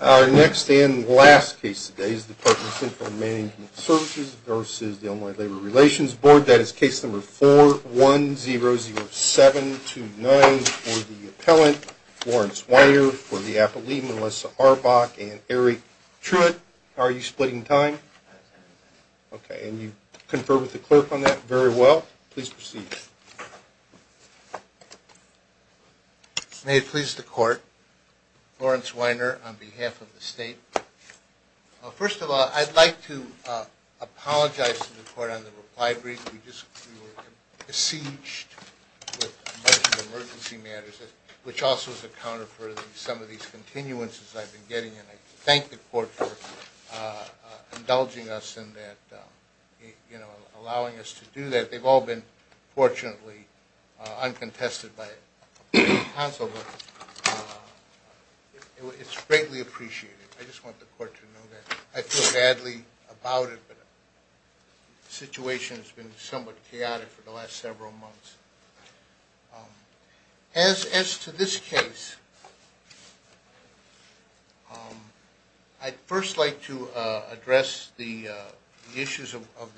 Our next and last case today is Department of Central Management Services v. Illinois Labor Relations Board. That is case number 4100729 for the appellant, Lawrence Weiner, for the appellee, Melissa Arbach, and Eric Truitt. Are you splitting time? Okay, and you conferred with the clerk on that very well. Please proceed. May it please the court, Lawrence Weiner on behalf of the state. First of all, I'd like to apologize to the court on the reply brief. We were besieged with a bunch of emergency matters, which also has accounted for some of these continuances I've been getting. I thank the court for indulging us in that, allowing us to do that. They've all been fortunately uncontested by counsel, but it's greatly appreciated. I just want the court to know that. I feel badly about it, but the situation has been somewhat chaotic for the last several months. As to this case, I'd first like to address the issues of the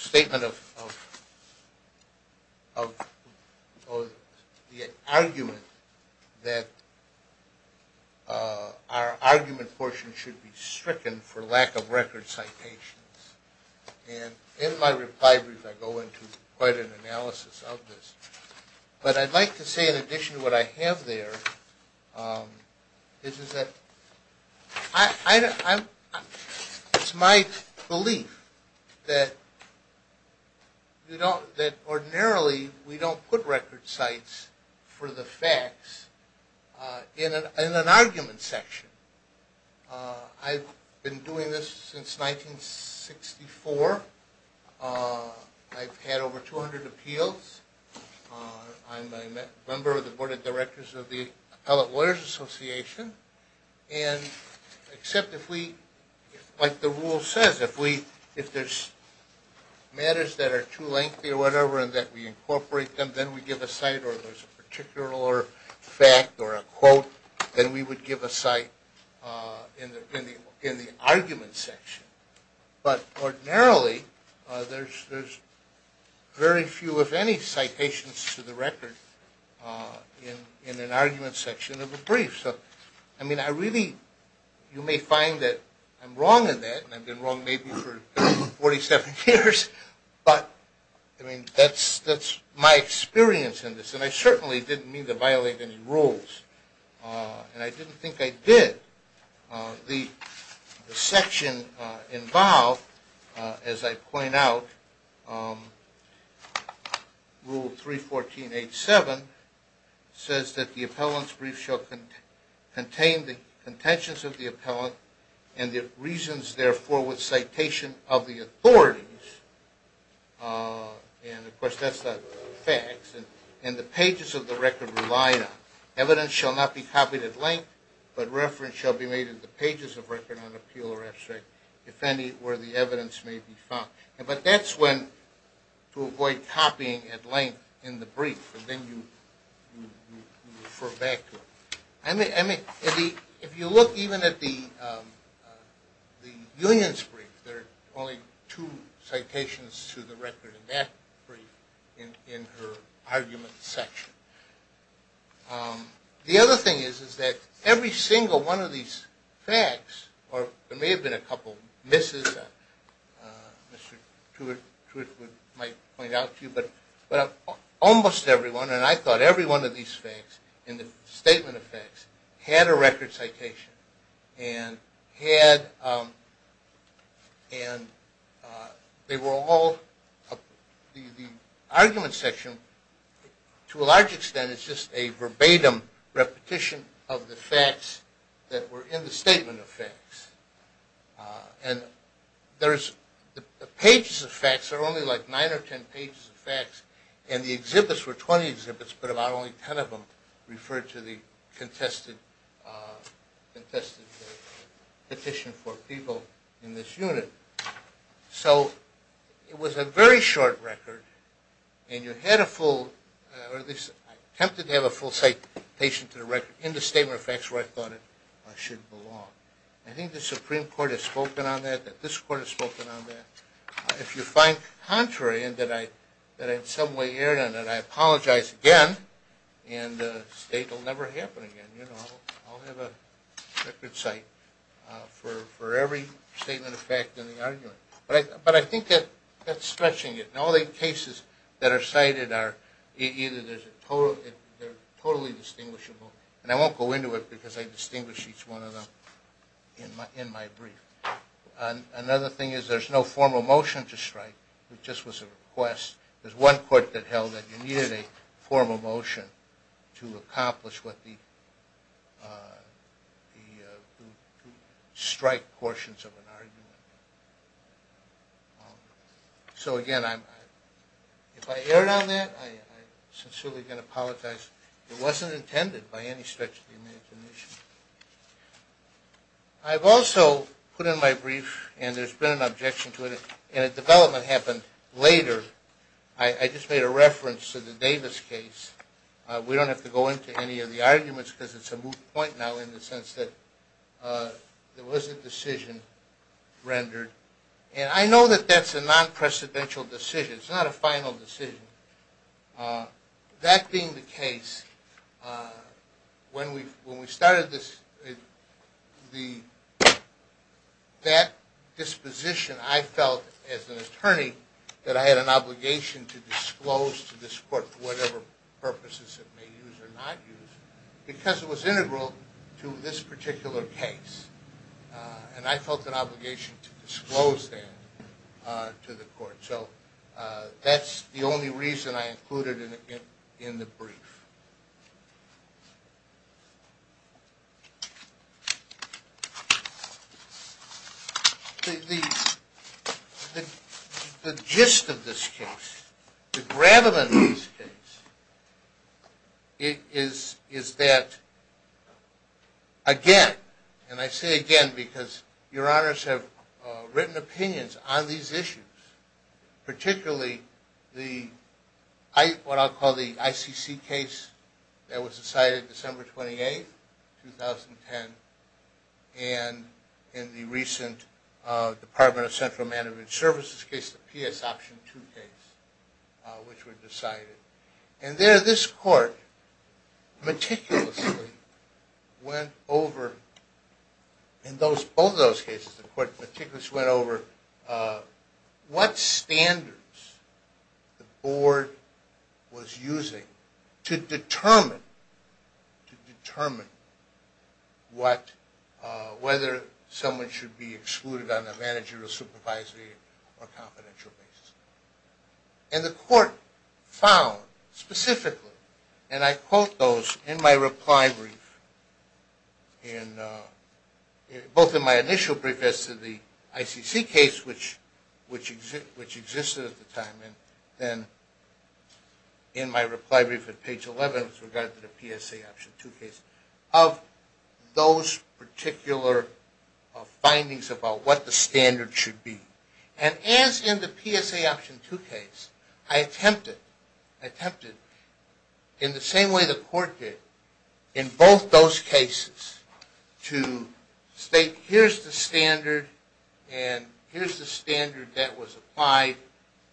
statement of the argument that our argument portion should be stricken for lack of record citations. In my reply brief, I go into quite an analysis of this. But I'd like to say in addition to what I have there, it's my belief that ordinarily we don't put record cites for the facts in an argument section. I've been doing this since 1964. I've had over 200 appeals. I'm a member of the Board of Directors of the Appellate Lawyers Association. Except if we, like the rule says, if there's matters that are too lengthy or whatever and that we incorporate them, then we give a cite or there's a particular fact or a quote, then we would give a cite in the argument section. But ordinarily, there's very few, if any, citations to the record in an argument section of a brief. You may find that I'm wrong in that, and I've been wrong maybe for 47 years, but that's my experience in this. And I certainly didn't mean to violate any rules, and I didn't think I did. The section involved, as I point out, Rule 314.87, says that the appellant's brief shall contain the contentions of the appellant and the reasons, therefore, with citation of the authorities, and of course that's not facts, and the pages of the record rely on. Evidence shall not be copied at length, but reference shall be made in the pages of record on appeal or abstract, if any, where the evidence may be found. But that's when to avoid copying at length in the brief, and then you refer back to it. If you look even at the union's brief, there are only two citations to the record in that brief in her argument section. The other thing is that every single one of these facts, or there may have been a couple misses that Mr. Tewitt might point out to you, but almost every one, and I thought every one of these facts in the statement of facts, had a record citation. The argument section, to a large extent, is just a verbatim repetition of the facts that were in the statement of facts. The pages of facts are only like nine or ten pages of facts, and the exhibits were twenty exhibits, but about only ten of them referred to the contested petition for people in this unit. So it was a very short record, and you had a full, or at least attempted to have a full citation to the record in the statement of facts where I thought it should belong. I think the Supreme Court has spoken on that, that this Court has spoken on that. If you find contrary, and that I in some way erred on that, I apologize again, and the state will never happen again. I'll have a record cite for every statement of fact in the argument. But I think that's stretching it, and all the cases that are cited are either totally distinguishable, and I won't go into it because I distinguish each one of them in my brief. Another thing is there's no formal motion to strike, it just was a request. There's one Court that held that you needed a formal motion to accomplish what the strike portions of an argument. So again, if I erred on that, I'm sincerely going to apologize. It wasn't intended by any stretch of the imagination. I've also put in my brief, and there's been an objection to it, and a development happened later. I just made a reference to the Davis case. We don't have to go into any of the arguments because it's a moot point now in the sense that there was a decision rendered. And I know that that's a non-precedential decision, it's not a final decision. That being the case, when we started that disposition, I felt as an attorney that I had an obligation to disclose to this Court for whatever purposes it may use or not use, because it was integral to this particular case. And I felt an obligation to disclose that to the Court. So that's the only reason I included it in the brief. The gist of this case, the gravamen of this case, is that, again, and I say again because Your Honors have written opinions on these issues, particularly what I'll call the ICC case that was decided December 28, 2010, and in the recent Department of Central Management Services case, the PS Option 2 case, which were decided. And there this Court meticulously went over, in both of those cases, the Court meticulously went over what standards the Board was using to determine whether someone should be excluded on a managerial, supervisory, or confidential basis. And the Court found, specifically, and I quote those in my reply brief, both in my initial brief as to the ICC case, which existed at the time, and then in my reply brief at page 11 with regard to the PSA Option 2 case, of those particular findings about what the standards should be. And as in the PSA Option 2 case, I attempted, in the same way the Court did, in both those cases to state, here's the standard, and here's the standard that was applied,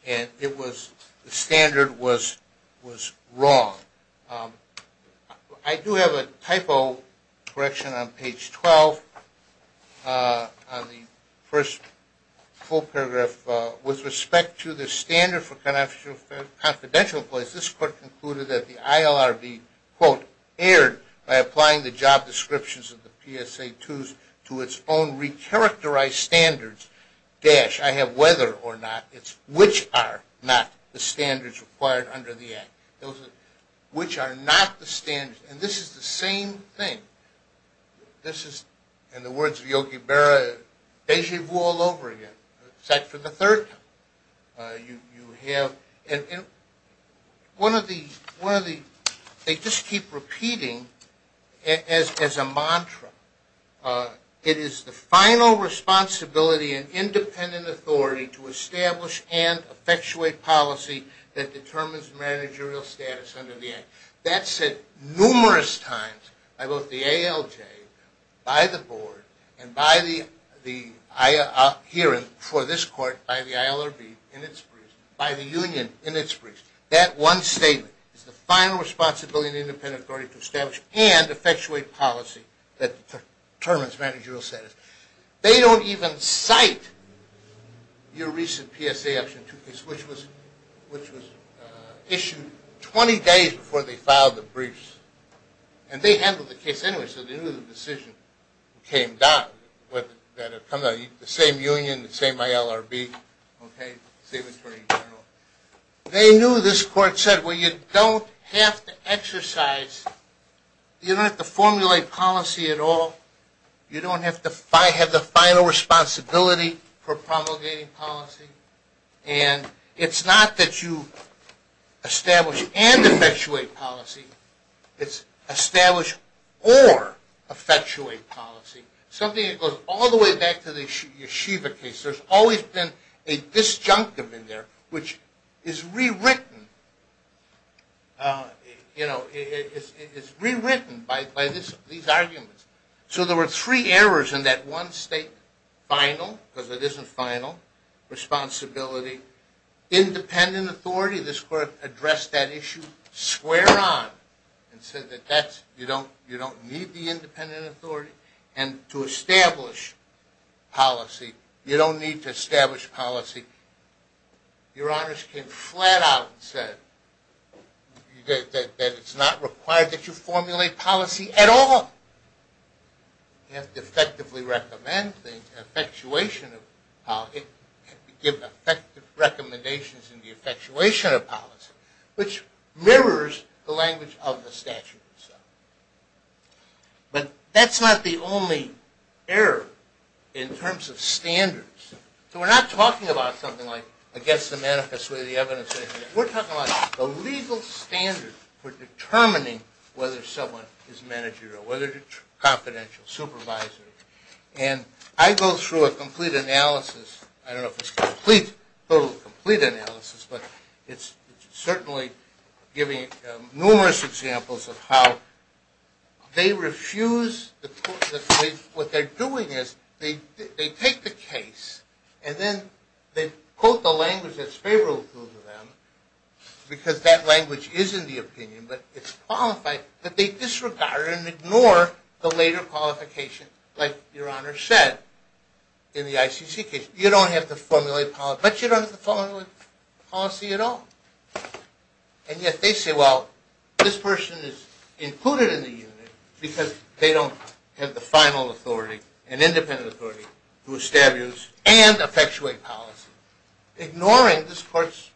and the standard was wrong. I do have a typo correction on page 12, on the first full paragraph. With respect to the standard for confidential employees, this Court concluded that the ILRB, quote, erred by applying the job descriptions of the PSA 2s to its own re-characterized standards, dash, I have whether or not, it's which are not the standards required under the Act, which are not the standards. And this is the same thing. This is, in the words of Yogi Berra, deja vu all over again, except for the third time. You have, and one of the, they just keep repeating, as a mantra, it is the final responsibility and independent authority to establish and effectuate policy that determines managerial status under the Act. That said numerous times by both the ALJ, by the Board, and by the hearing for this Court by the ILRB in its briefs, by the union in its briefs, that one statement, it's the final responsibility and independent authority to establish and effectuate policy that determines managerial status. They don't even cite your recent PSA action 2 case, which was issued 20 days before they filed the briefs. And they handled the case anyway, so they knew the decision came down, the same union, the same ILRB, same attorney general. They knew, this Court said, well you don't have to exercise, you don't have to formulate policy at all. You don't have to have the final responsibility for promulgating policy. And it's not that you establish and effectuate policy, it's establish or effectuate policy. Something that goes all the way back to the Yeshiva case. There's always been a disjunctive in there, which is rewritten by these arguments. So there were three errors in that one statement. Final, because it isn't final, responsibility, independent authority. This Court addressed that issue square on and said that you don't need the independent authority. And to establish policy, you don't need to establish policy. Your Honors came flat out and said that it's not required that you formulate policy at all. You have to effectively recommend things, give effective recommendations in the effectuation of policy, which mirrors the language of the statute itself. But that's not the only error in terms of standards. So we're not talking about something like against the manifest way of the evidence. We're talking about the legal standard for determining whether someone is managerial, whether confidential, supervisory. And I go through a complete analysis. I don't know if it's complete, total complete analysis, but it's certainly giving numerous examples of how they refuse. What they're doing is they take the case, and then they quote the language that's favorable to them, because that language is in the opinion, but it's qualified, but they disregard and ignore the later qualification like Your Honor said in the ICC case. You don't have to formulate policy, but you don't have to formulate policy at all. And yet they say, well, this person is included in the unit because they don't have the final authority, an independent authority to establish and effectuate policy. Ignoring this court's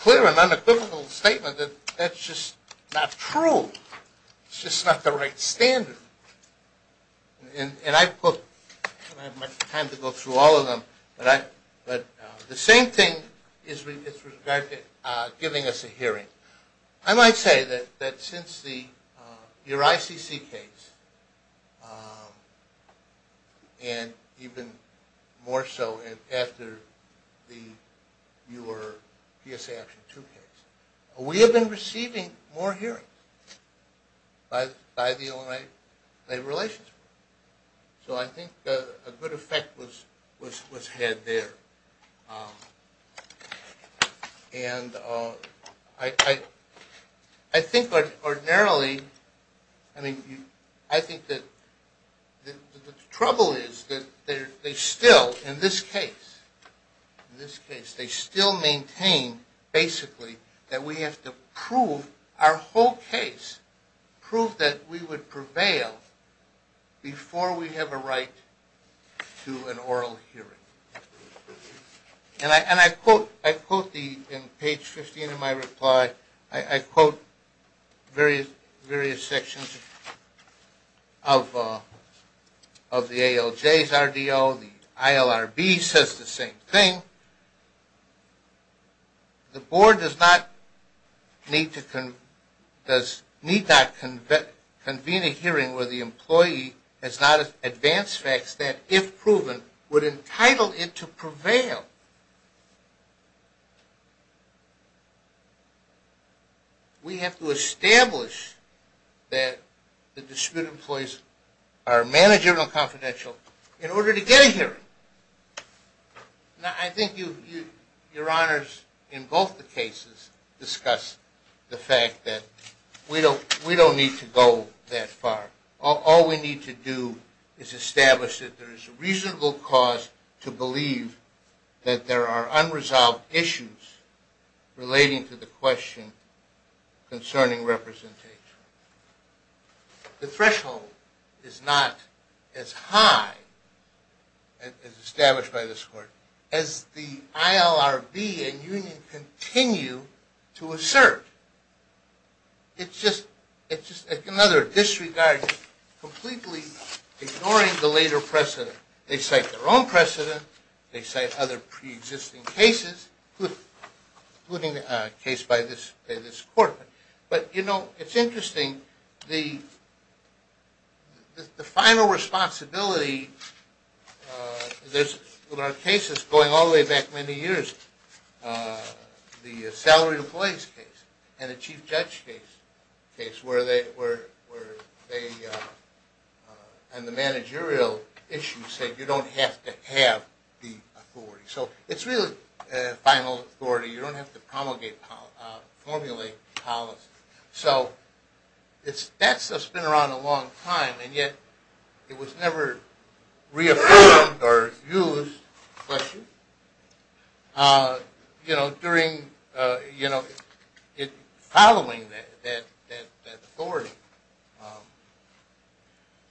clear and unequivocal statement that that's just not true. It's just not the right standard. And I don't have much time to go through all of them, but the same thing is with regard to giving us a hearing. I might say that since your ICC case, and even more so after your PSA Action 2 case, we have been receiving more hearings by the Illinois Labor Relations Group. So I think a good effect was had there. And I think ordinarily, I mean, I think that the trouble is that they still, in this case, they still maintain basically that we have to prove our whole case, prove that we would prevail before we have a right to an oral hearing. And I quote in page 15 of my reply, I quote various sections of the ALJ's RDO, the ILRB says the same thing. The board does not need to convene a hearing where the employee has not advanced facts that, if proven, would entitle it to prevail. We have to establish that the disputed employees are managerial and confidential in order to get a hearing. Now, I think your honors in both the cases discuss the fact that we don't need to go that far. All we need to do is establish that there is a reasonable cause to believe that there are unresolved issues relating to the question concerning representation. The threshold is not as high, as established by this court, as the ILRB and union continue to assert. It's just another disregard, completely ignoring the later precedent. They cite their own precedent, they cite other pre-existing cases, including a case by this court. But, you know, it's interesting, the final responsibility, there are cases going all the way back many years, the salary employees case and the chief judge case, where they, on the managerial issue, said you don't have to have the authority. So, it's really final authority, you don't have to formulate policy. So, that stuff's been around a long time, and yet it was never reaffirmed or used, you know, following that authority.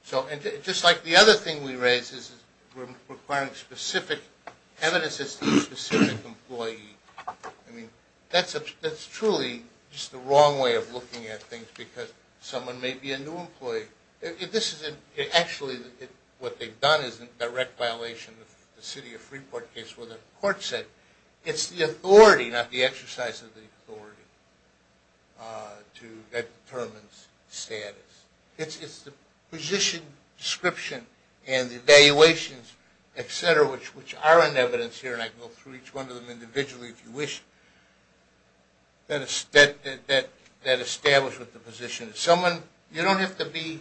So, just like the other thing we raised is requiring specific evidence as to a specific employee. I mean, that's truly just the wrong way of looking at things, because someone may be a new employee. Actually, what they've done is a direct violation of the city of Freeport case, where the court said it's the authority, not the exercise of the authority, that determines status. It's the position, description, and the evaluations, etc., which are in evidence here, and I can go through each one of them individually if you wish, that establish what the position is. Someone, you don't have to be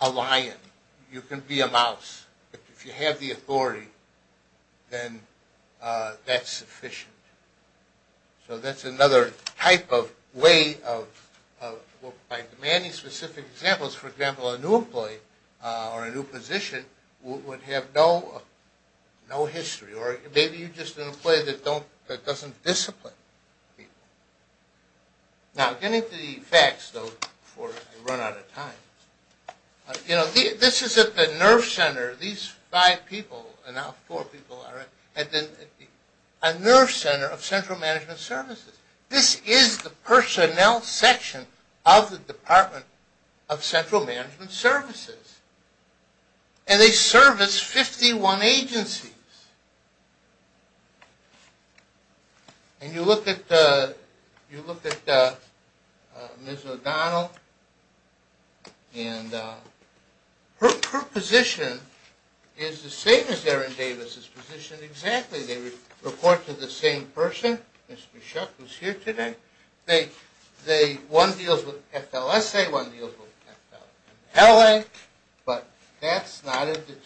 a lion, you can be a mouse. But if you have the authority, then that's sufficient. So, that's another type of way of, by demanding specific examples, for example, a new employee or a new position would have no history, or maybe you're just an employee that doesn't discipline people. Now, getting to the facts, though, before I run out of time. You know, this is at the NERF Center. These five people, and now four people, are at the NERF Center of Central Management Services. This is the personnel section of the Department of Central Management Services, and they service 51 agencies. And you look at Ms. O'Donnell, and her position is the same as Erin Davis's position exactly. They report to the same person, Ms. Bichotte, who's here today. One deals with FLSA, one deals with FLA, but that's not a determinative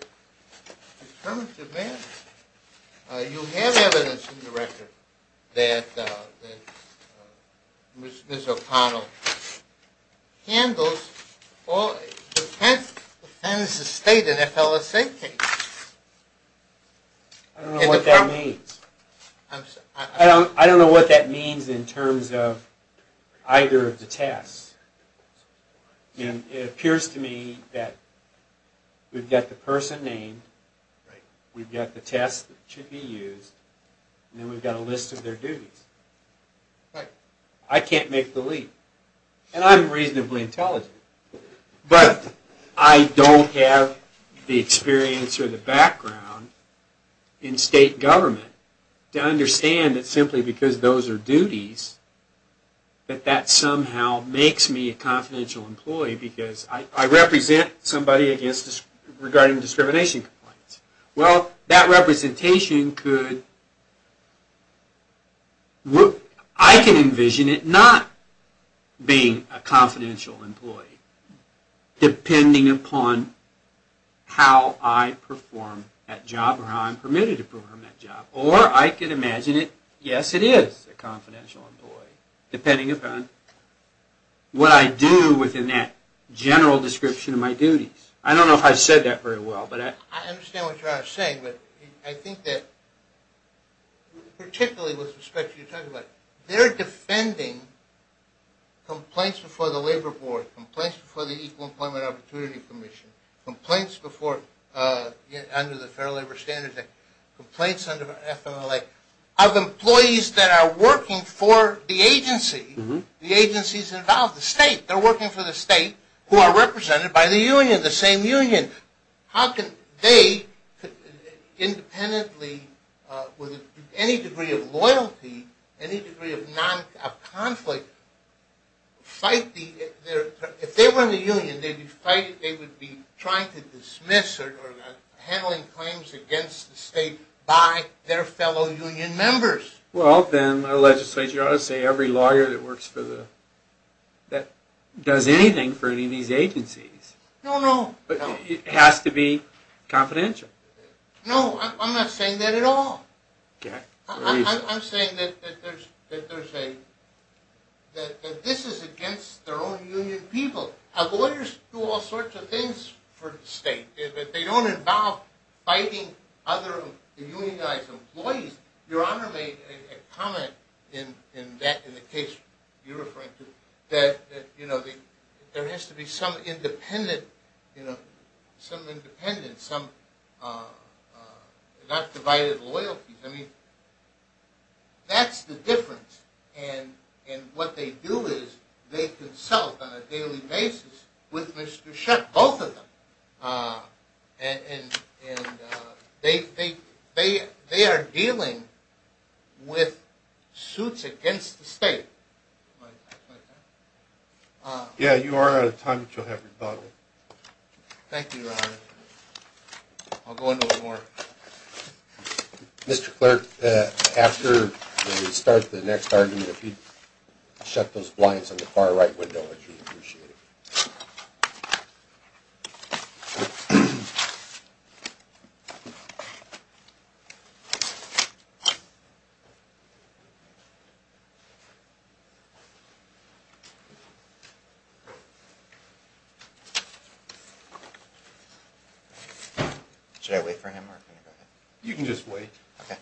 determination. It's a determinative matter. You have evidence in the record that Ms. O'Donnell handles or attends to state and FLSA cases. I don't know what that means. I don't know what that means in terms of either of the tests. And it appears to me that we've got the person named, we've got the tests that should be used, and then we've got a list of their duties. I can't make the leap, and I'm reasonably intelligent, but I don't have the experience or the background in state government to understand that simply because those are duties, that that somehow makes me a confidential employee because I represent somebody regarding discrimination complaints. Well, that representation could... I can envision it not being a confidential employee, depending upon how I perform that job or how I'm permitted to perform that job. Or I can imagine it, yes, it is a confidential employee, depending upon what I do within that general description of my duties. I don't know if I've said that very well, but I... I understand what you're saying, but I think that, particularly with respect to what you're talking about, that they're defending complaints before the Labor Board, complaints before the Equal Employment Opportunity Commission, complaints before, under the Fair Labor Standards Act, complaints under FMLA of employees that are working for the agency, the agencies involved, the state. They're working for the state who are represented by the union, the same union. How can they independently, with any degree of loyalty, any degree of conflict, fight the... If they were in the union, they'd be fighting... they would be trying to dismiss or handling claims against the state by their fellow union members. Well, then, my legislature ought to say every lawyer that works for the... that does anything for any of these agencies... No, no. ...has to be confidential. No, I'm not saying that at all. I'm saying that there's a... that this is against their own union people. Lawyers do all sorts of things for the state. They don't involve fighting other unionized employees. Your Honor made a comment in the case you're referring to that there has to be some independent, some independent, and some not divided loyalties. I mean, that's the difference. And what they do is they consult on a daily basis with Mr. Shutt, both of them. And they are dealing with suits against the state. Yeah, you are out of time, but you'll have your bottle. Thank you, Your Honor. I'll go into it more. Mr. Clerk, after we start the next argument, if you'd shut those blinds on the far right window, I'd really appreciate it. Should I wait for him, or can I go ahead? You can just wait. Okay.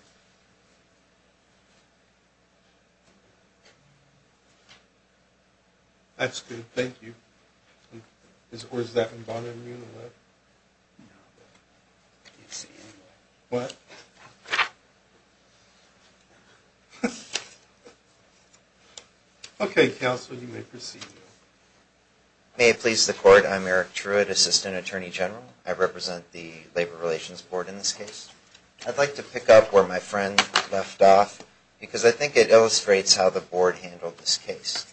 That's good, thank you. Or is that bothering you in a way? No. I can't see anymore. What? Okay, counsel, you may proceed. May it please the Court, I'm Eric Truitt, Assistant Attorney General. I represent the Labor Relations Board in this case. I'd like to pick up where my friend left off, because I think it illustrates how the Board handled this case.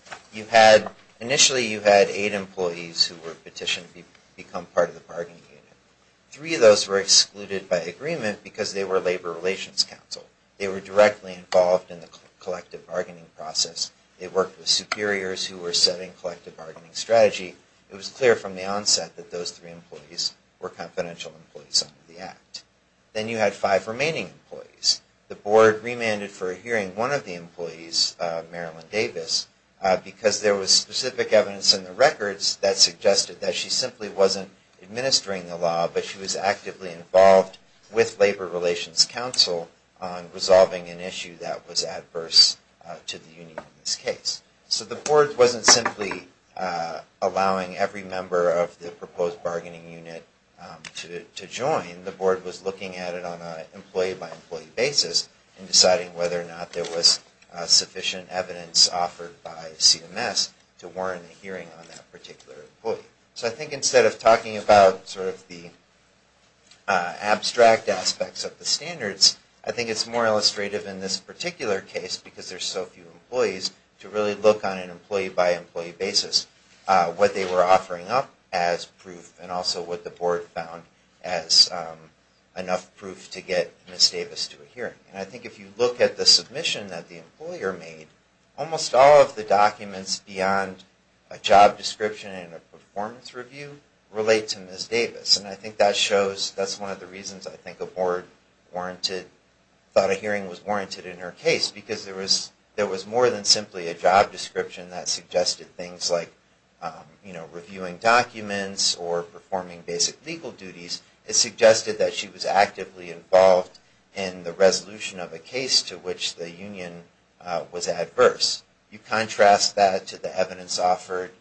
Initially, you had eight employees who were petitioned to become part of the bargaining unit. Three of those were excluded by agreement because they were Labor Relations Counsel. They were directly involved in the collective bargaining process. They worked with superiors who were setting collective bargaining strategy. It was clear from the onset that those three employees were confidential employees under the Act. Then you had five remaining employees. The Board remanded for hearing one of the employees, Marilyn Davis, because there was specific evidence in the records that suggested that she simply wasn't administering the law, but she was actively involved with Labor Relations Counsel on resolving an issue that was adverse to the union in this case. So the Board wasn't simply allowing every member of the proposed bargaining unit to join. The Board was looking at it on an employee-by-employee basis and deciding whether or not there was sufficient evidence offered by CMS to warrant a hearing on that particular employee. So I think instead of talking about sort of the abstract aspects of the standards, I think it's more illustrative in this particular case, because there's so few employees, to really look on an employee-by-employee basis what they were offering up as proof and also what the Board found as enough proof to get Ms. Davis to a hearing. And I think if you look at the submission that the employer made, almost all of the documents beyond a job description and a performance review relate to Ms. Davis. And I think that's one of the reasons I think a Board thought a hearing was warranted in her case, because there was more than simply a job description that suggested things like reviewing documents or performing basic legal duties. It suggested that she was actively involved in the resolution of a case to which the union was adverse. You contrast that to the evidence offered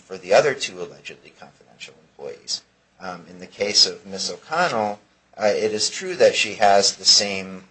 for the other two allegedly confidential employees. In the case of Ms. O'Connell, it is true that she has the same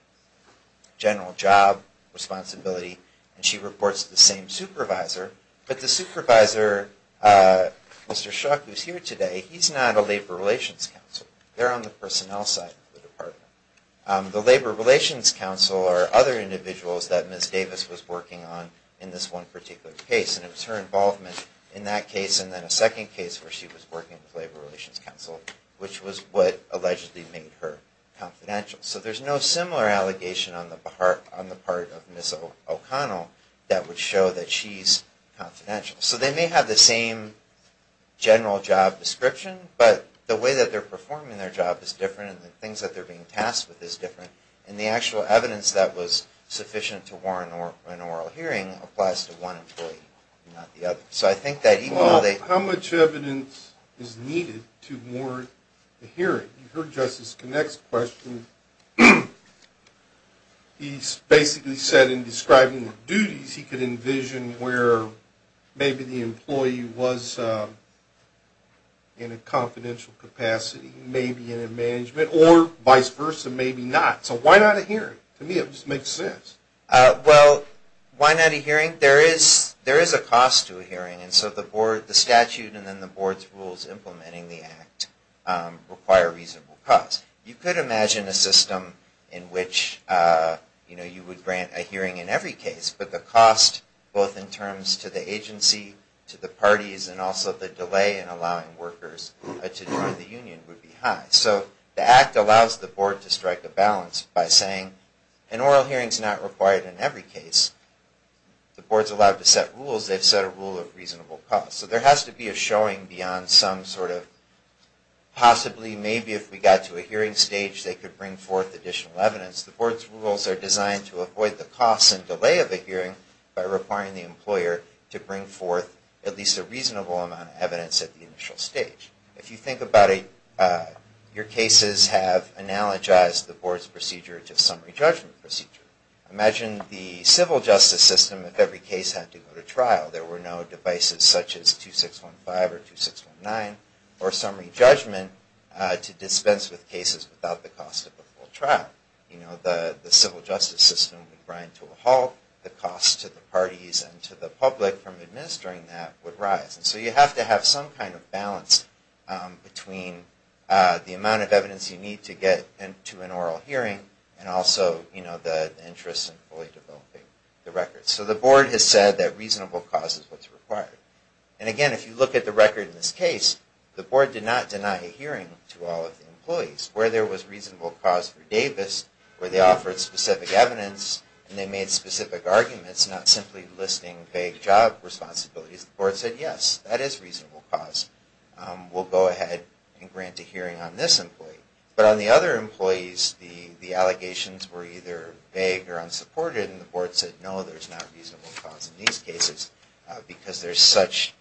general job responsibility and she reports to the same supervisor, but the supervisor, Mr. Schock, who's here today, he's not a Labor Relations Counselor. They're on the personnel side of the department. The Labor Relations Counselor are other individuals that Ms. Davis was working on in this one particular case. And it was her involvement in that case and then a second case where she was working with Labor Relations Counsel, which was what allegedly made her confidential. So there's no similar allegation on the part of Ms. O'Connell that would show that she's confidential. So they may have the same general job description, but the way that they're performing their job is different and the things that they're being tasked with is different. And the actual evidence that was sufficient to warrant an oral hearing applies to one employee, not the other. So I think that even though they... Well, how much evidence is needed to warrant a hearing? You heard Justice Connick's question. He basically said in describing the duties, he could envision where maybe the employee was in a confidential capacity, maybe in a management, or vice versa, maybe not. So why not a hearing? To me, it just makes sense. Well, why not a hearing? There is a cost to a hearing. And so the statute and then the board's rules implementing the act require a reasonable cost. You could imagine a system in which you would grant a hearing in every case, but the cost, both in terms to the agency, to the parties, and also the delay in allowing workers to join the union would be high. So the act allows the board to strike a balance by saying an oral hearing is not required in every case. The board's allowed to set rules. They've set a rule of reasonable cost. So there has to be a showing beyond some sort of possibly maybe if we got to a hearing stage, they could bring forth additional evidence. The board's rules are designed to avoid the cost and delay of a hearing by requiring the employer to bring forth at least a reasonable amount of evidence at the initial stage. If you think about it, your cases have analogized the board's procedure to summary judgment procedure. Imagine the civil justice system if every case had to go to trial. There were no devices such as 2615 or 2619 or summary judgment to dispense with cases without the cost of a full trial. The civil justice system would grind to a halt. The cost to the parties and to the public from administering that would rise. So you have to have some kind of balance between the amount of evidence you need to get to an oral hearing and also the interest in fully developing the records. So the board has said that reasonable cost is what's required. And again, if you look at the record in this case, the board did not deny a hearing to all of the employees. Where there was reasonable cost for Davis, where they offered specific evidence, and they made specific arguments, not simply listing vague job responsibilities, the board said, yes, that is reasonable cost. We'll go ahead and grant a hearing on this employee. But on the other employees, the allegations were either vague or unsupported, and the board said, no, there's not reasonable cost in these cases because there's such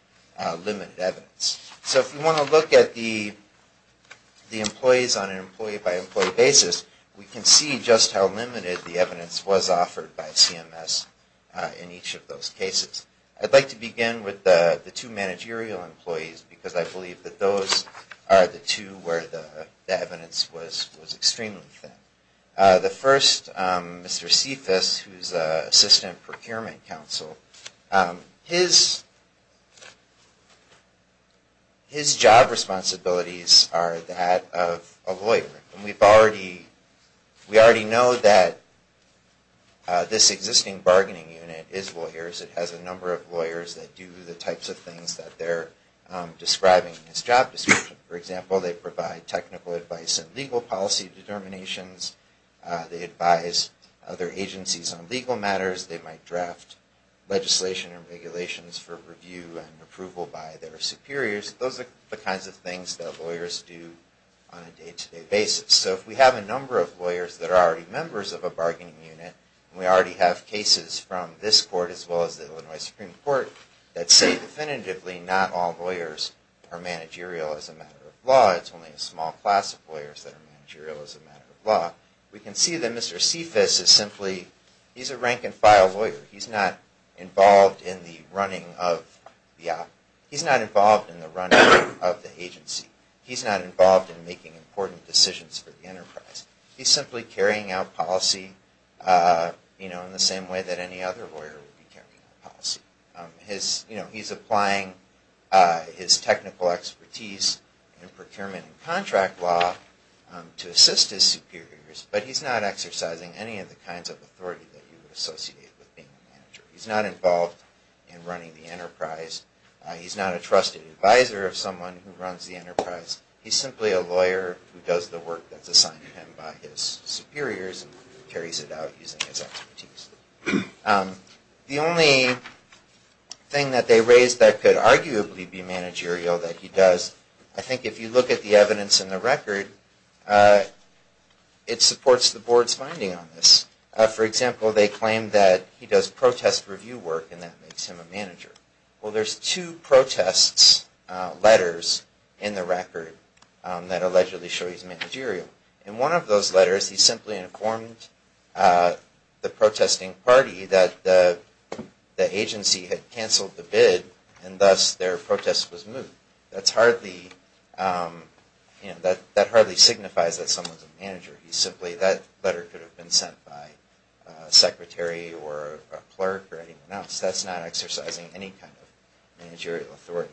limited evidence. So if you want to look at the employees on an employee-by-employee basis, we can see just how limited the evidence was offered by CMS in each of those cases. I'd like to begin with the two managerial employees because I believe that those are the two where the evidence was extremely thin. The first, Mr. Cephas, who's Assistant Procurement Counsel, his job responsibilities are that of a lawyer. And we already know that this existing bargaining unit is lawyers. It has a number of lawyers that do the types of things that they're describing in this job description. For example, they provide technical advice and legal policy determinations. They advise other agencies on legal matters. They might draft legislation and regulations for review and approval by their superiors. Those are the kinds of things that lawyers do on a day-to-day basis. So if we have a number of lawyers that are already members of a bargaining unit, and we already have cases from this court as well as the Illinois Supreme Court, that say definitively not all lawyers are managerial as a matter of law. It's only a small class of lawyers that are managerial as a matter of law. We can see that Mr. Cephas is simply a rank-and-file lawyer. He's not involved in the running of the agency. He's not involved in making important decisions for the enterprise. He's simply carrying out policy in the same way that any other lawyer would be carrying out policy. He's applying his technical expertise in procurement and contract law to assist his superiors, but he's not exercising any of the kinds of authority that you would associate with being a manager. He's not involved in running the enterprise. He's not a trusted advisor of someone who runs the enterprise. He's simply a lawyer who does the work that's assigned to him by his superiors, and carries it out using his expertise. The only thing that they raised that could arguably be managerial that he does, I think if you look at the evidence in the record, it supports the board's finding on this. For example, they claim that he does protest review work, and that makes him a manager. Well, there's two protests letters in the record that allegedly show he's managerial. In one of those letters, he simply informed the protesting party that the agency had canceled the bid, and thus their protest was moved. That hardly signifies that someone's a manager. That letter could have been sent by a secretary or a clerk or anyone else. That's not exercising any kind of managerial authority.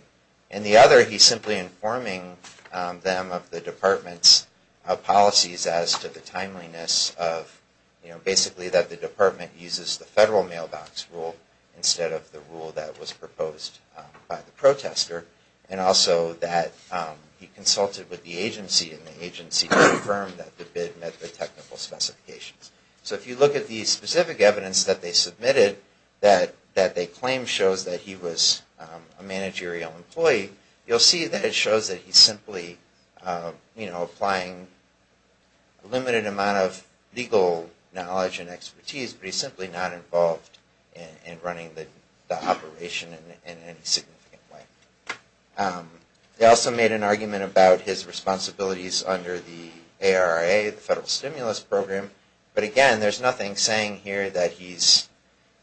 In the other, he's simply informing them of the department's policies as to the timeliness of, basically that the department uses the federal mailbox rule instead of the rule that was proposed by the protester, and also that he consulted with the agency, and the agency confirmed that the bid met the technical specifications. So if you look at the specific evidence that they submitted that they claim shows that he was a managerial employee, you'll see that it shows that he's simply applying a limited amount of legal knowledge and expertise, but he's simply not involved in running the operation in any significant way. They also made an argument about his responsibilities under the ARRA, the Federal Stimulus Program, but again, there's nothing saying here that he's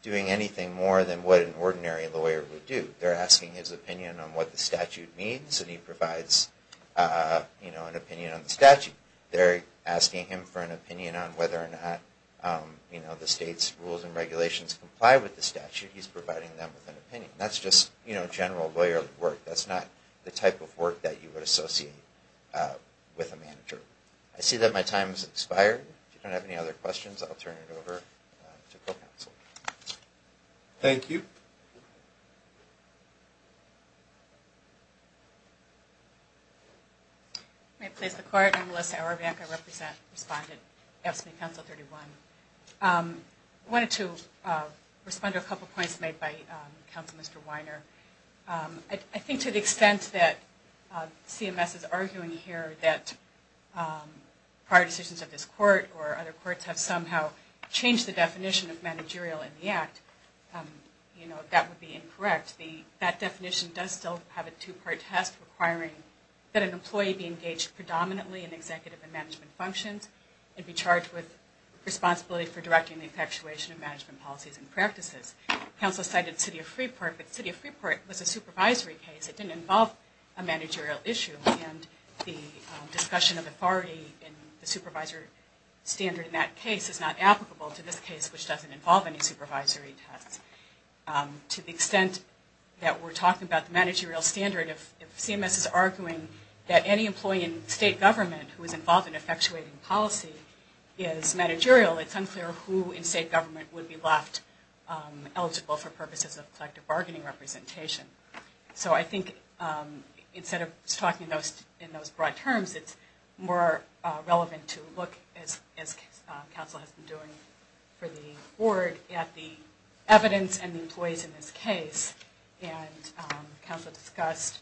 doing anything more than what an ordinary lawyer would do. They're asking his opinion on what the statute means, and he provides an opinion on the statute. They're asking him for an opinion on whether or not the state's rules and regulations comply with the statute. He's providing them with an opinion. That's just general lawyer work. That's not the type of work that you would associate with a manager. I see that my time has expired. If you don't have any other questions, I'll turn it over to co-counsel. Thank you. May it please the Court. I'm Melissa Aravack. I represent and respond to AFSCME Council 31. I wanted to respond to a couple of points made by Counselor Mr. Weiner. I think to the extent that CMS is arguing here that prior decisions of this Court or other Courts have somehow changed the definition of managerial in the Act, that would be incorrect. That definition does still have a two-part test requiring that an employee be engaged predominantly in executive and management functions and be charged with responsibility for directing the infatuation of management policies and practices. Counselor cited the City of Freeport, but the City of Freeport was a supervisory case. It didn't involve a managerial issue, and the discussion of authority in the supervisor standard in that case is not applicable to this case, which doesn't involve any supervisory tests. To the extent that we're talking about the managerial standard, if CMS is arguing that any employee in state government who is involved in infatuating policy is managerial, it's unclear who in state government would be left eligible for purposes of collective bargaining representation. So I think instead of talking in those broad terms, it's more relevant to look, as Counsel has been doing for the Board, at the evidence and the employees in this case. And Counsel discussed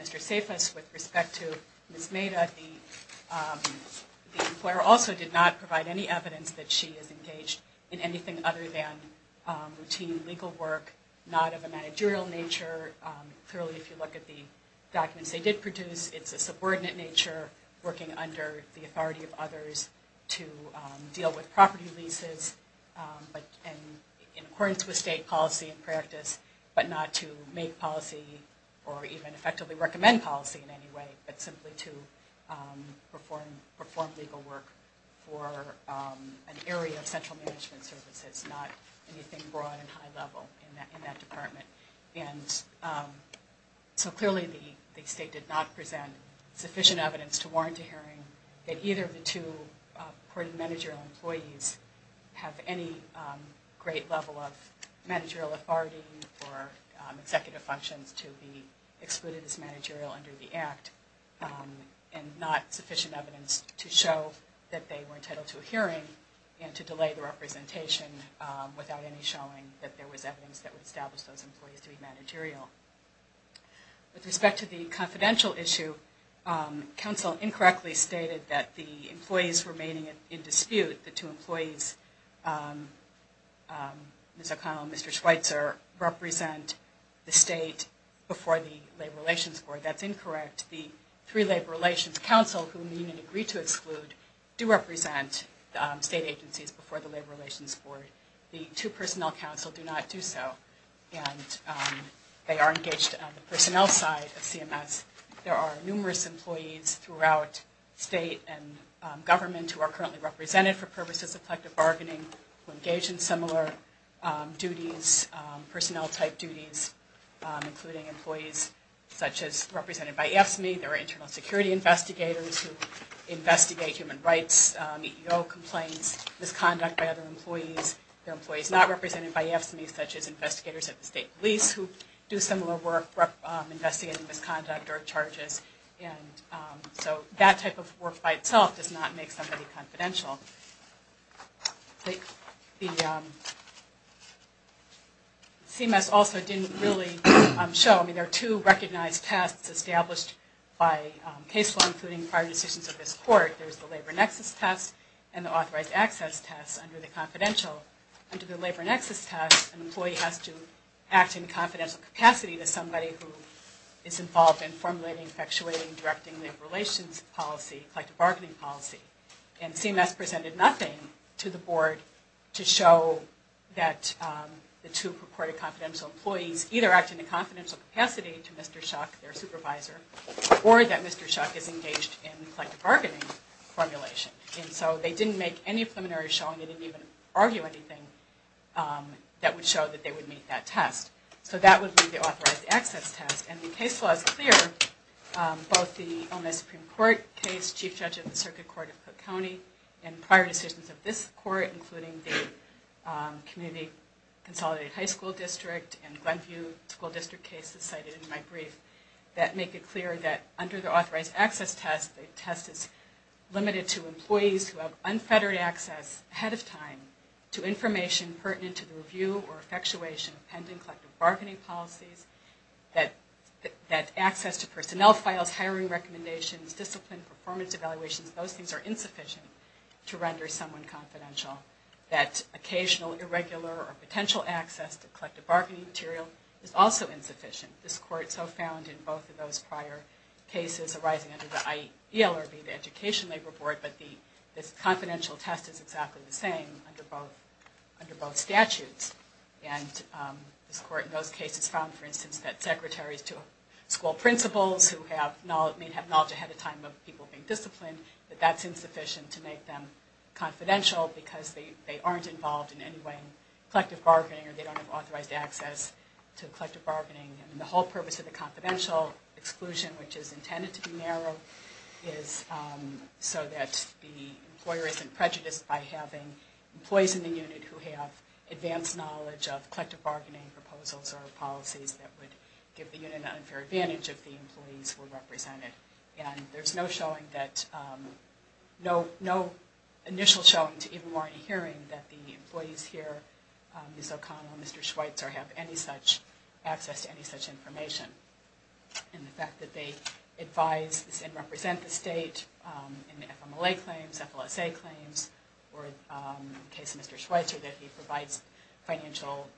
Mr. Safis with respect to Ms. Maida. The employer also did not provide any evidence that she is engaged in anything other than routine legal work, not of a managerial nature. Clearly, if you look at the documents they did produce, it's a subordinate nature, working under the authority of others to deal with property leases. In accordance with state policy and practice, but not to make policy or even effectively recommend policy in any way, but simply to perform legal work for an area of central management services, not anything broad and high level in that department. And so clearly the state did not present sufficient evidence to warrant a hearing that either of the two supported managerial employees have any great level of managerial authority or executive functions to be excluded as managerial under the Act, and not sufficient evidence to show that they were entitled to a hearing and to delay the representation without any showing that there was evidence that would establish those employees to be managerial. With respect to the confidential issue, counsel incorrectly stated that the employees remaining in dispute, the two employees, Ms. O'Connell and Mr. Schweitzer, represent the state before the labor relations board. That's incorrect. The three labor relations counsel, whom the union agreed to exclude, do represent state agencies before the labor relations board. The two personnel counsel do not do so. And they are engaged on the personnel side of CMS. There are numerous employees throughout state and government who are currently represented for purposes of collective bargaining who engage in similar duties, personnel-type duties, including employees such as represented by AFSCME. There are internal security investigators who investigate human rights, EEO complaints, misconduct by other employees, there are employees not represented by AFSCME, such as investigators at the state police, who do similar work investigating misconduct or charges. And so that type of work by itself does not make somebody confidential. The CMS also didn't really show. I mean, there are two recognized tasks established by case law, including prior decisions of this court. There's the labor nexus test and the authorized access test under the confidential. Under the labor nexus test, an employee has to act in confidential capacity to somebody who is involved in formulating, effectuating, directing labor relations policy, collective bargaining policy. And CMS presented nothing to the board to show that the two purported confidential employees either act in a confidential capacity to Mr. Shuck, their supervisor, or that Mr. Shuck is engaged in collective bargaining formulation. And so they didn't make any preliminary showing. They didn't even argue anything that would show that they would meet that test. So that would be the authorized access test. And the case law is clear, both the Illinois Supreme Court case, chief judge of the circuit court of Cook County, and prior decisions of this court, including the community consolidated high school district and Glenview school district cases cited in my brief, that make it clear that under the authorized access test, the test is limited to employees who have unfettered access ahead of time to information pertinent to the review or effectuation of pending collective bargaining policies, that access to personnel files, hiring recommendations, discipline, performance evaluations, those things are insufficient to render someone confidential. That occasional, irregular, or potential access to collective bargaining material is also insufficient. This court so found in both of those prior cases arising under the ELRB, the Education Labor Board, but this confidential test is exactly the same under both statutes. And this court in those cases found, for instance, that secretaries to school principals who may have knowledge ahead of time of people being disciplined, that that's insufficient to make them confidential because they aren't involved in any way in collective bargaining or they don't have authorized access to collective bargaining. And the whole purpose of the confidential exclusion, which is intended to be narrow, is so that the employer isn't prejudiced by having employees in the unit who have advanced knowledge of collective bargaining proposals or policies that would give the unit an unfair advantage if the employees were represented. And there's no initial showing to even warrant a hearing that the employees here, Ms. O'Connell and Mr. Schweitzer, have any such access to any such information. And the fact that they advise and represent the state in the FMLA claims, FLSA claims, or in the case of Mr. Schweitzer, that he provides financial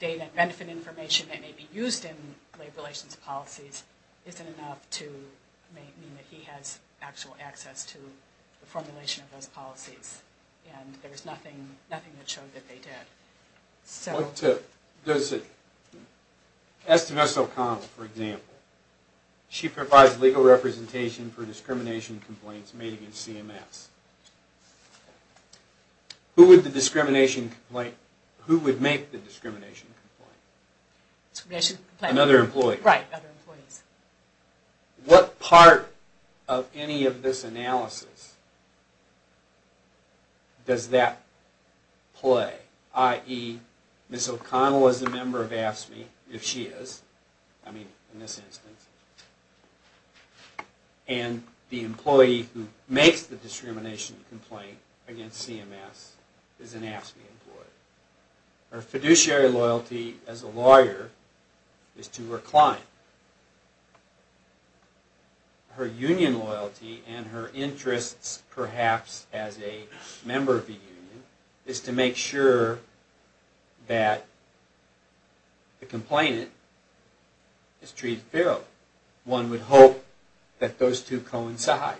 data and benefit information that may be used in labor relations policies, isn't enough to mean that he has actual access to the formulation of those policies. And there's nothing that showed that they did. So... What does it... As to Ms. O'Connell, for example, she provides legal representation for discrimination complaints made against CMS. Who would the discrimination complaint... Who would make the discrimination complaint? Another employee. Right, other employees. What part of any of this analysis does that play? I.e., Ms. O'Connell is a member of AFSCME, if she is. I mean, in this instance. And the employee who makes the discrimination complaint against CMS is an AFSCME employee. Her fiduciary loyalty as a lawyer is to her client. Her union loyalty and her interests, perhaps, as a member of the union, is to make sure that the complainant is treated fairly. One would hope that those two coincide.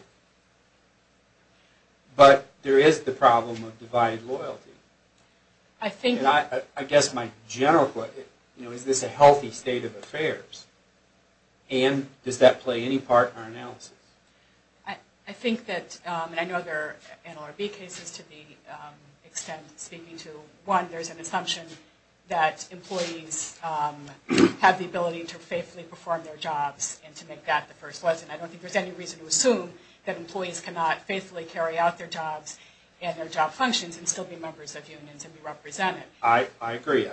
But there is the problem of divided loyalty. I guess my general question is, is this a healthy state of affairs? I think that, and I know there are NLRB cases to the extent speaking to one, there's an assumption that employees have the ability to faithfully perform their jobs and to make that the first lesson. I don't think there's any reason to assume that employees cannot faithfully carry out their jobs and their job functions and still be members of unions and be represented. I agree.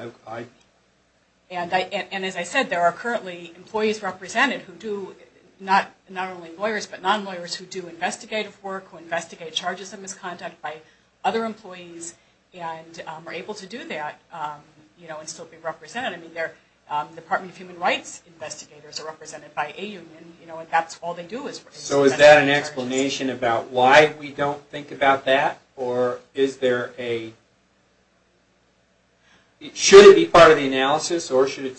And as I said, there are currently employees represented who do, not only lawyers, but non-lawyers who do investigative work, who investigate charges of misconduct by other employees and are able to do that and still be represented. I mean, the Department of Human Rights investigators are represented by a union, and that's all they do is investigate charges. So is that an explanation about why we don't think about that? Or is there a, should it be part of the analysis, or should we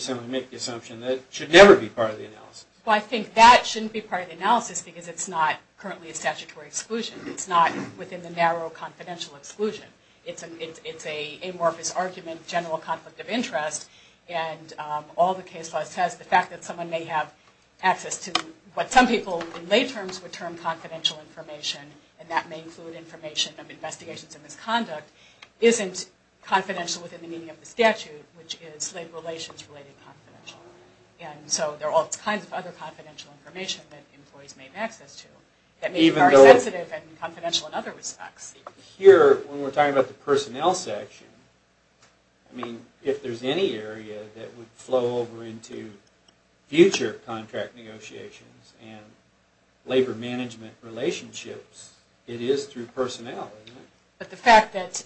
simply make the assumption that it should never be part of the analysis? Well, I think that shouldn't be part of the analysis because it's not currently a statutory exclusion. It's not within the narrow confidential exclusion. It's an amorphous argument, general conflict of interest, and all the case law says the fact that someone may have access to what some people in lay terms would term confidential information, and that may include information of investigations of misconduct, isn't confidential within the meaning of the statute, which is labor relations related confidential. And so there are all kinds of other confidential information that employees may have access to that may be very sensitive and confidential in other respects. Here, when we're talking about the personnel section, I mean, if there's any area that would flow over into future contract negotiations and labor management relationships, it is through personnel, isn't it? But the fact that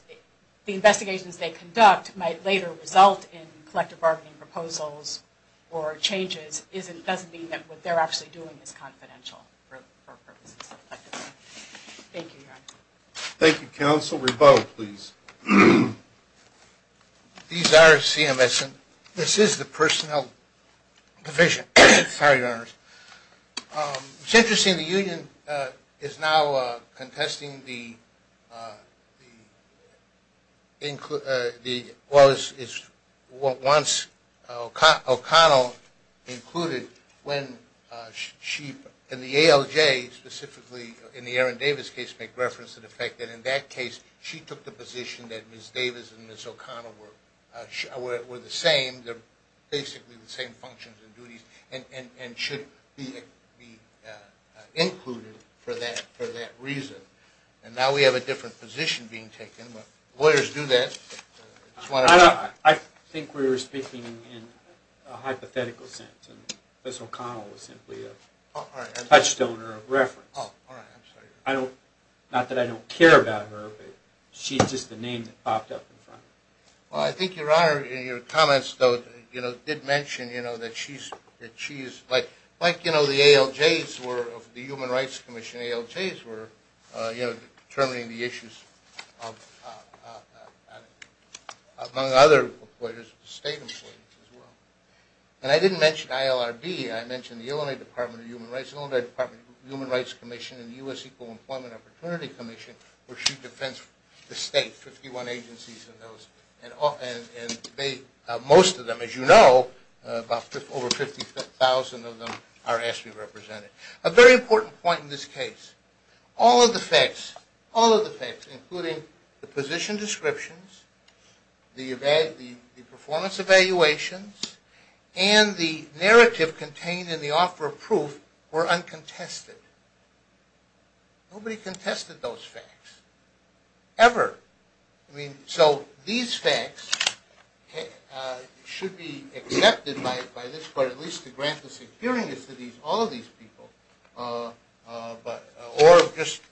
the investigations they conduct might later result in collective bargaining proposals or changes doesn't mean that what they're actually doing is confidential for purposes of collective bargaining. Thank you, Your Honor. Thank you, Counsel. Rebo, please. These are CMS, and this is the personnel division. Sorry, Your Honors. It's interesting, the union is now contesting what once O'Connell included when she, in the ALJ specifically, in the Aaron Davis case, make reference to the fact that in that case, she took the position that Ms. Davis and Ms. O'Connell were the same. They're basically the same functions and duties and should be included for that reason. And now we have a different position being taken, but lawyers do that. I think we were speaking in a hypothetical sense, and Ms. O'Connell was simply a touchstone or a reference. Oh, all right. I'm sorry. Not that I don't care about her, but she's just a name that popped up in front of me. Well, I think Your Honor, in your comments, though, did mention that she's like the ALJs of the Human Rights Commission. ALJs were determining the issues among other state employees as well. And I didn't mention ILRB. I mentioned the Illinois Department of Human Rights, Illinois Department of Human Rights Commission, and the U.S. Equal Employment Opportunity Commission, the state, 51 agencies, and most of them, as you know, over 50,000 of them are ASPE represented. A very important point in this case. All of the facts, all of the facts, including the position descriptions, the performance evaluations, and the narrative contained in the offer of proof were uncontested. Nobody contested those facts, ever. I mean, so these facts should be accepted by this court at least to grant the secureness to all of these people, or just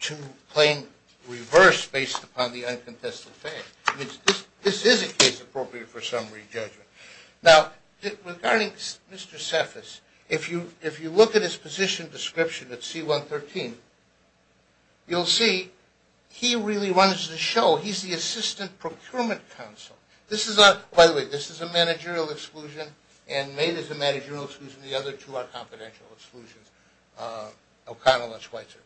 to claim reverse based upon the uncontested facts. This is a case appropriate for summary judgment. Now, regarding Mr. Cephas, if you look at his position description at C-113, you'll see he really wants to show he's the Assistant Procurement Counsel. By the way, this is a managerial exclusion, and made as a managerial exclusion, the other two are confidential exclusions, O'Connell and Schweitzer.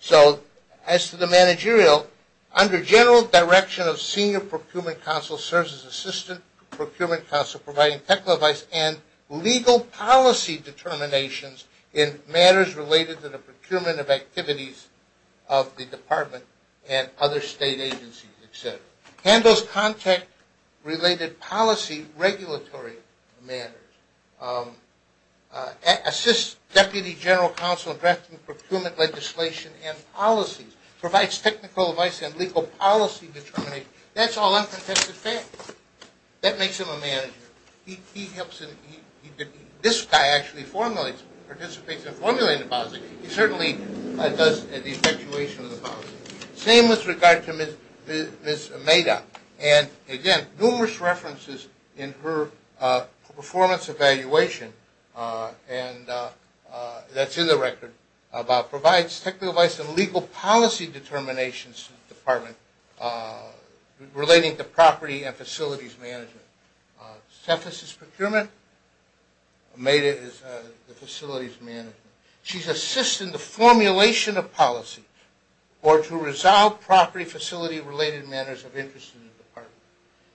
So, as to the managerial, under general direction of Senior Procurement Counsel, serves as Assistant Procurement Counsel providing technical advice and legal policy determinations in matters related to the procurement of activities of the department and other state agencies, et cetera. Handles contact-related policy regulatory matters. Assists Deputy General Counsel in drafting procurement legislation and policies. Provides technical advice and legal policy determinations. That's all uncontested facts. That makes him a manager. This guy actually participates in formulating the policy. He certainly does the effectuation of the policy. Same with regard to Ms. Ameda. And, again, numerous references in her performance evaluation that's in the record about provides technical advice and legal policy determinations to the department relating to property and facilities management. Cephas is procurement. Ameda is the facilities management. She's assisting the formulation of policy or to resolve property facility-related matters of interest in the department.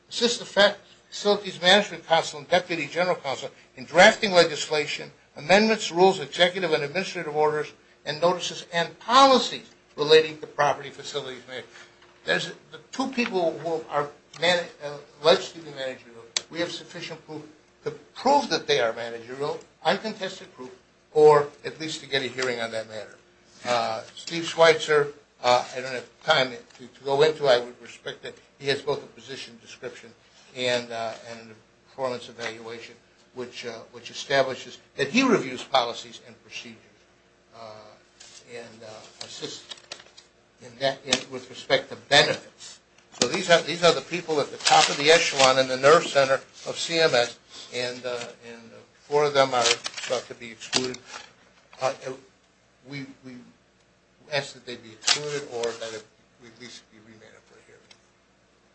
Assists the Facilities Management Counsel and Deputy General Counsel in drafting legislation, amendments, rules, executive and administrative orders, and notices and policies relating to property facilities management. There's two people who are alleged to be managerial. We have sufficient proof to prove that they are managerial. Uncontested proof, or at least to get a hearing on that matter. Steve Schweitzer, I don't have time to go into. I would respect that he has both a position description and a performance evaluation, which establishes that he reviews policies and procedures and assists with respect to benefits. So these are the people at the top of the echelon in the nerve center of CMS. And four of them are thought to be excluded. We ask that they be excluded or at least be remanded for a hearing.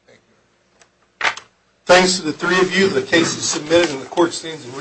Thank you. Thanks to the three of you. The case is submitted and the court stands in recess.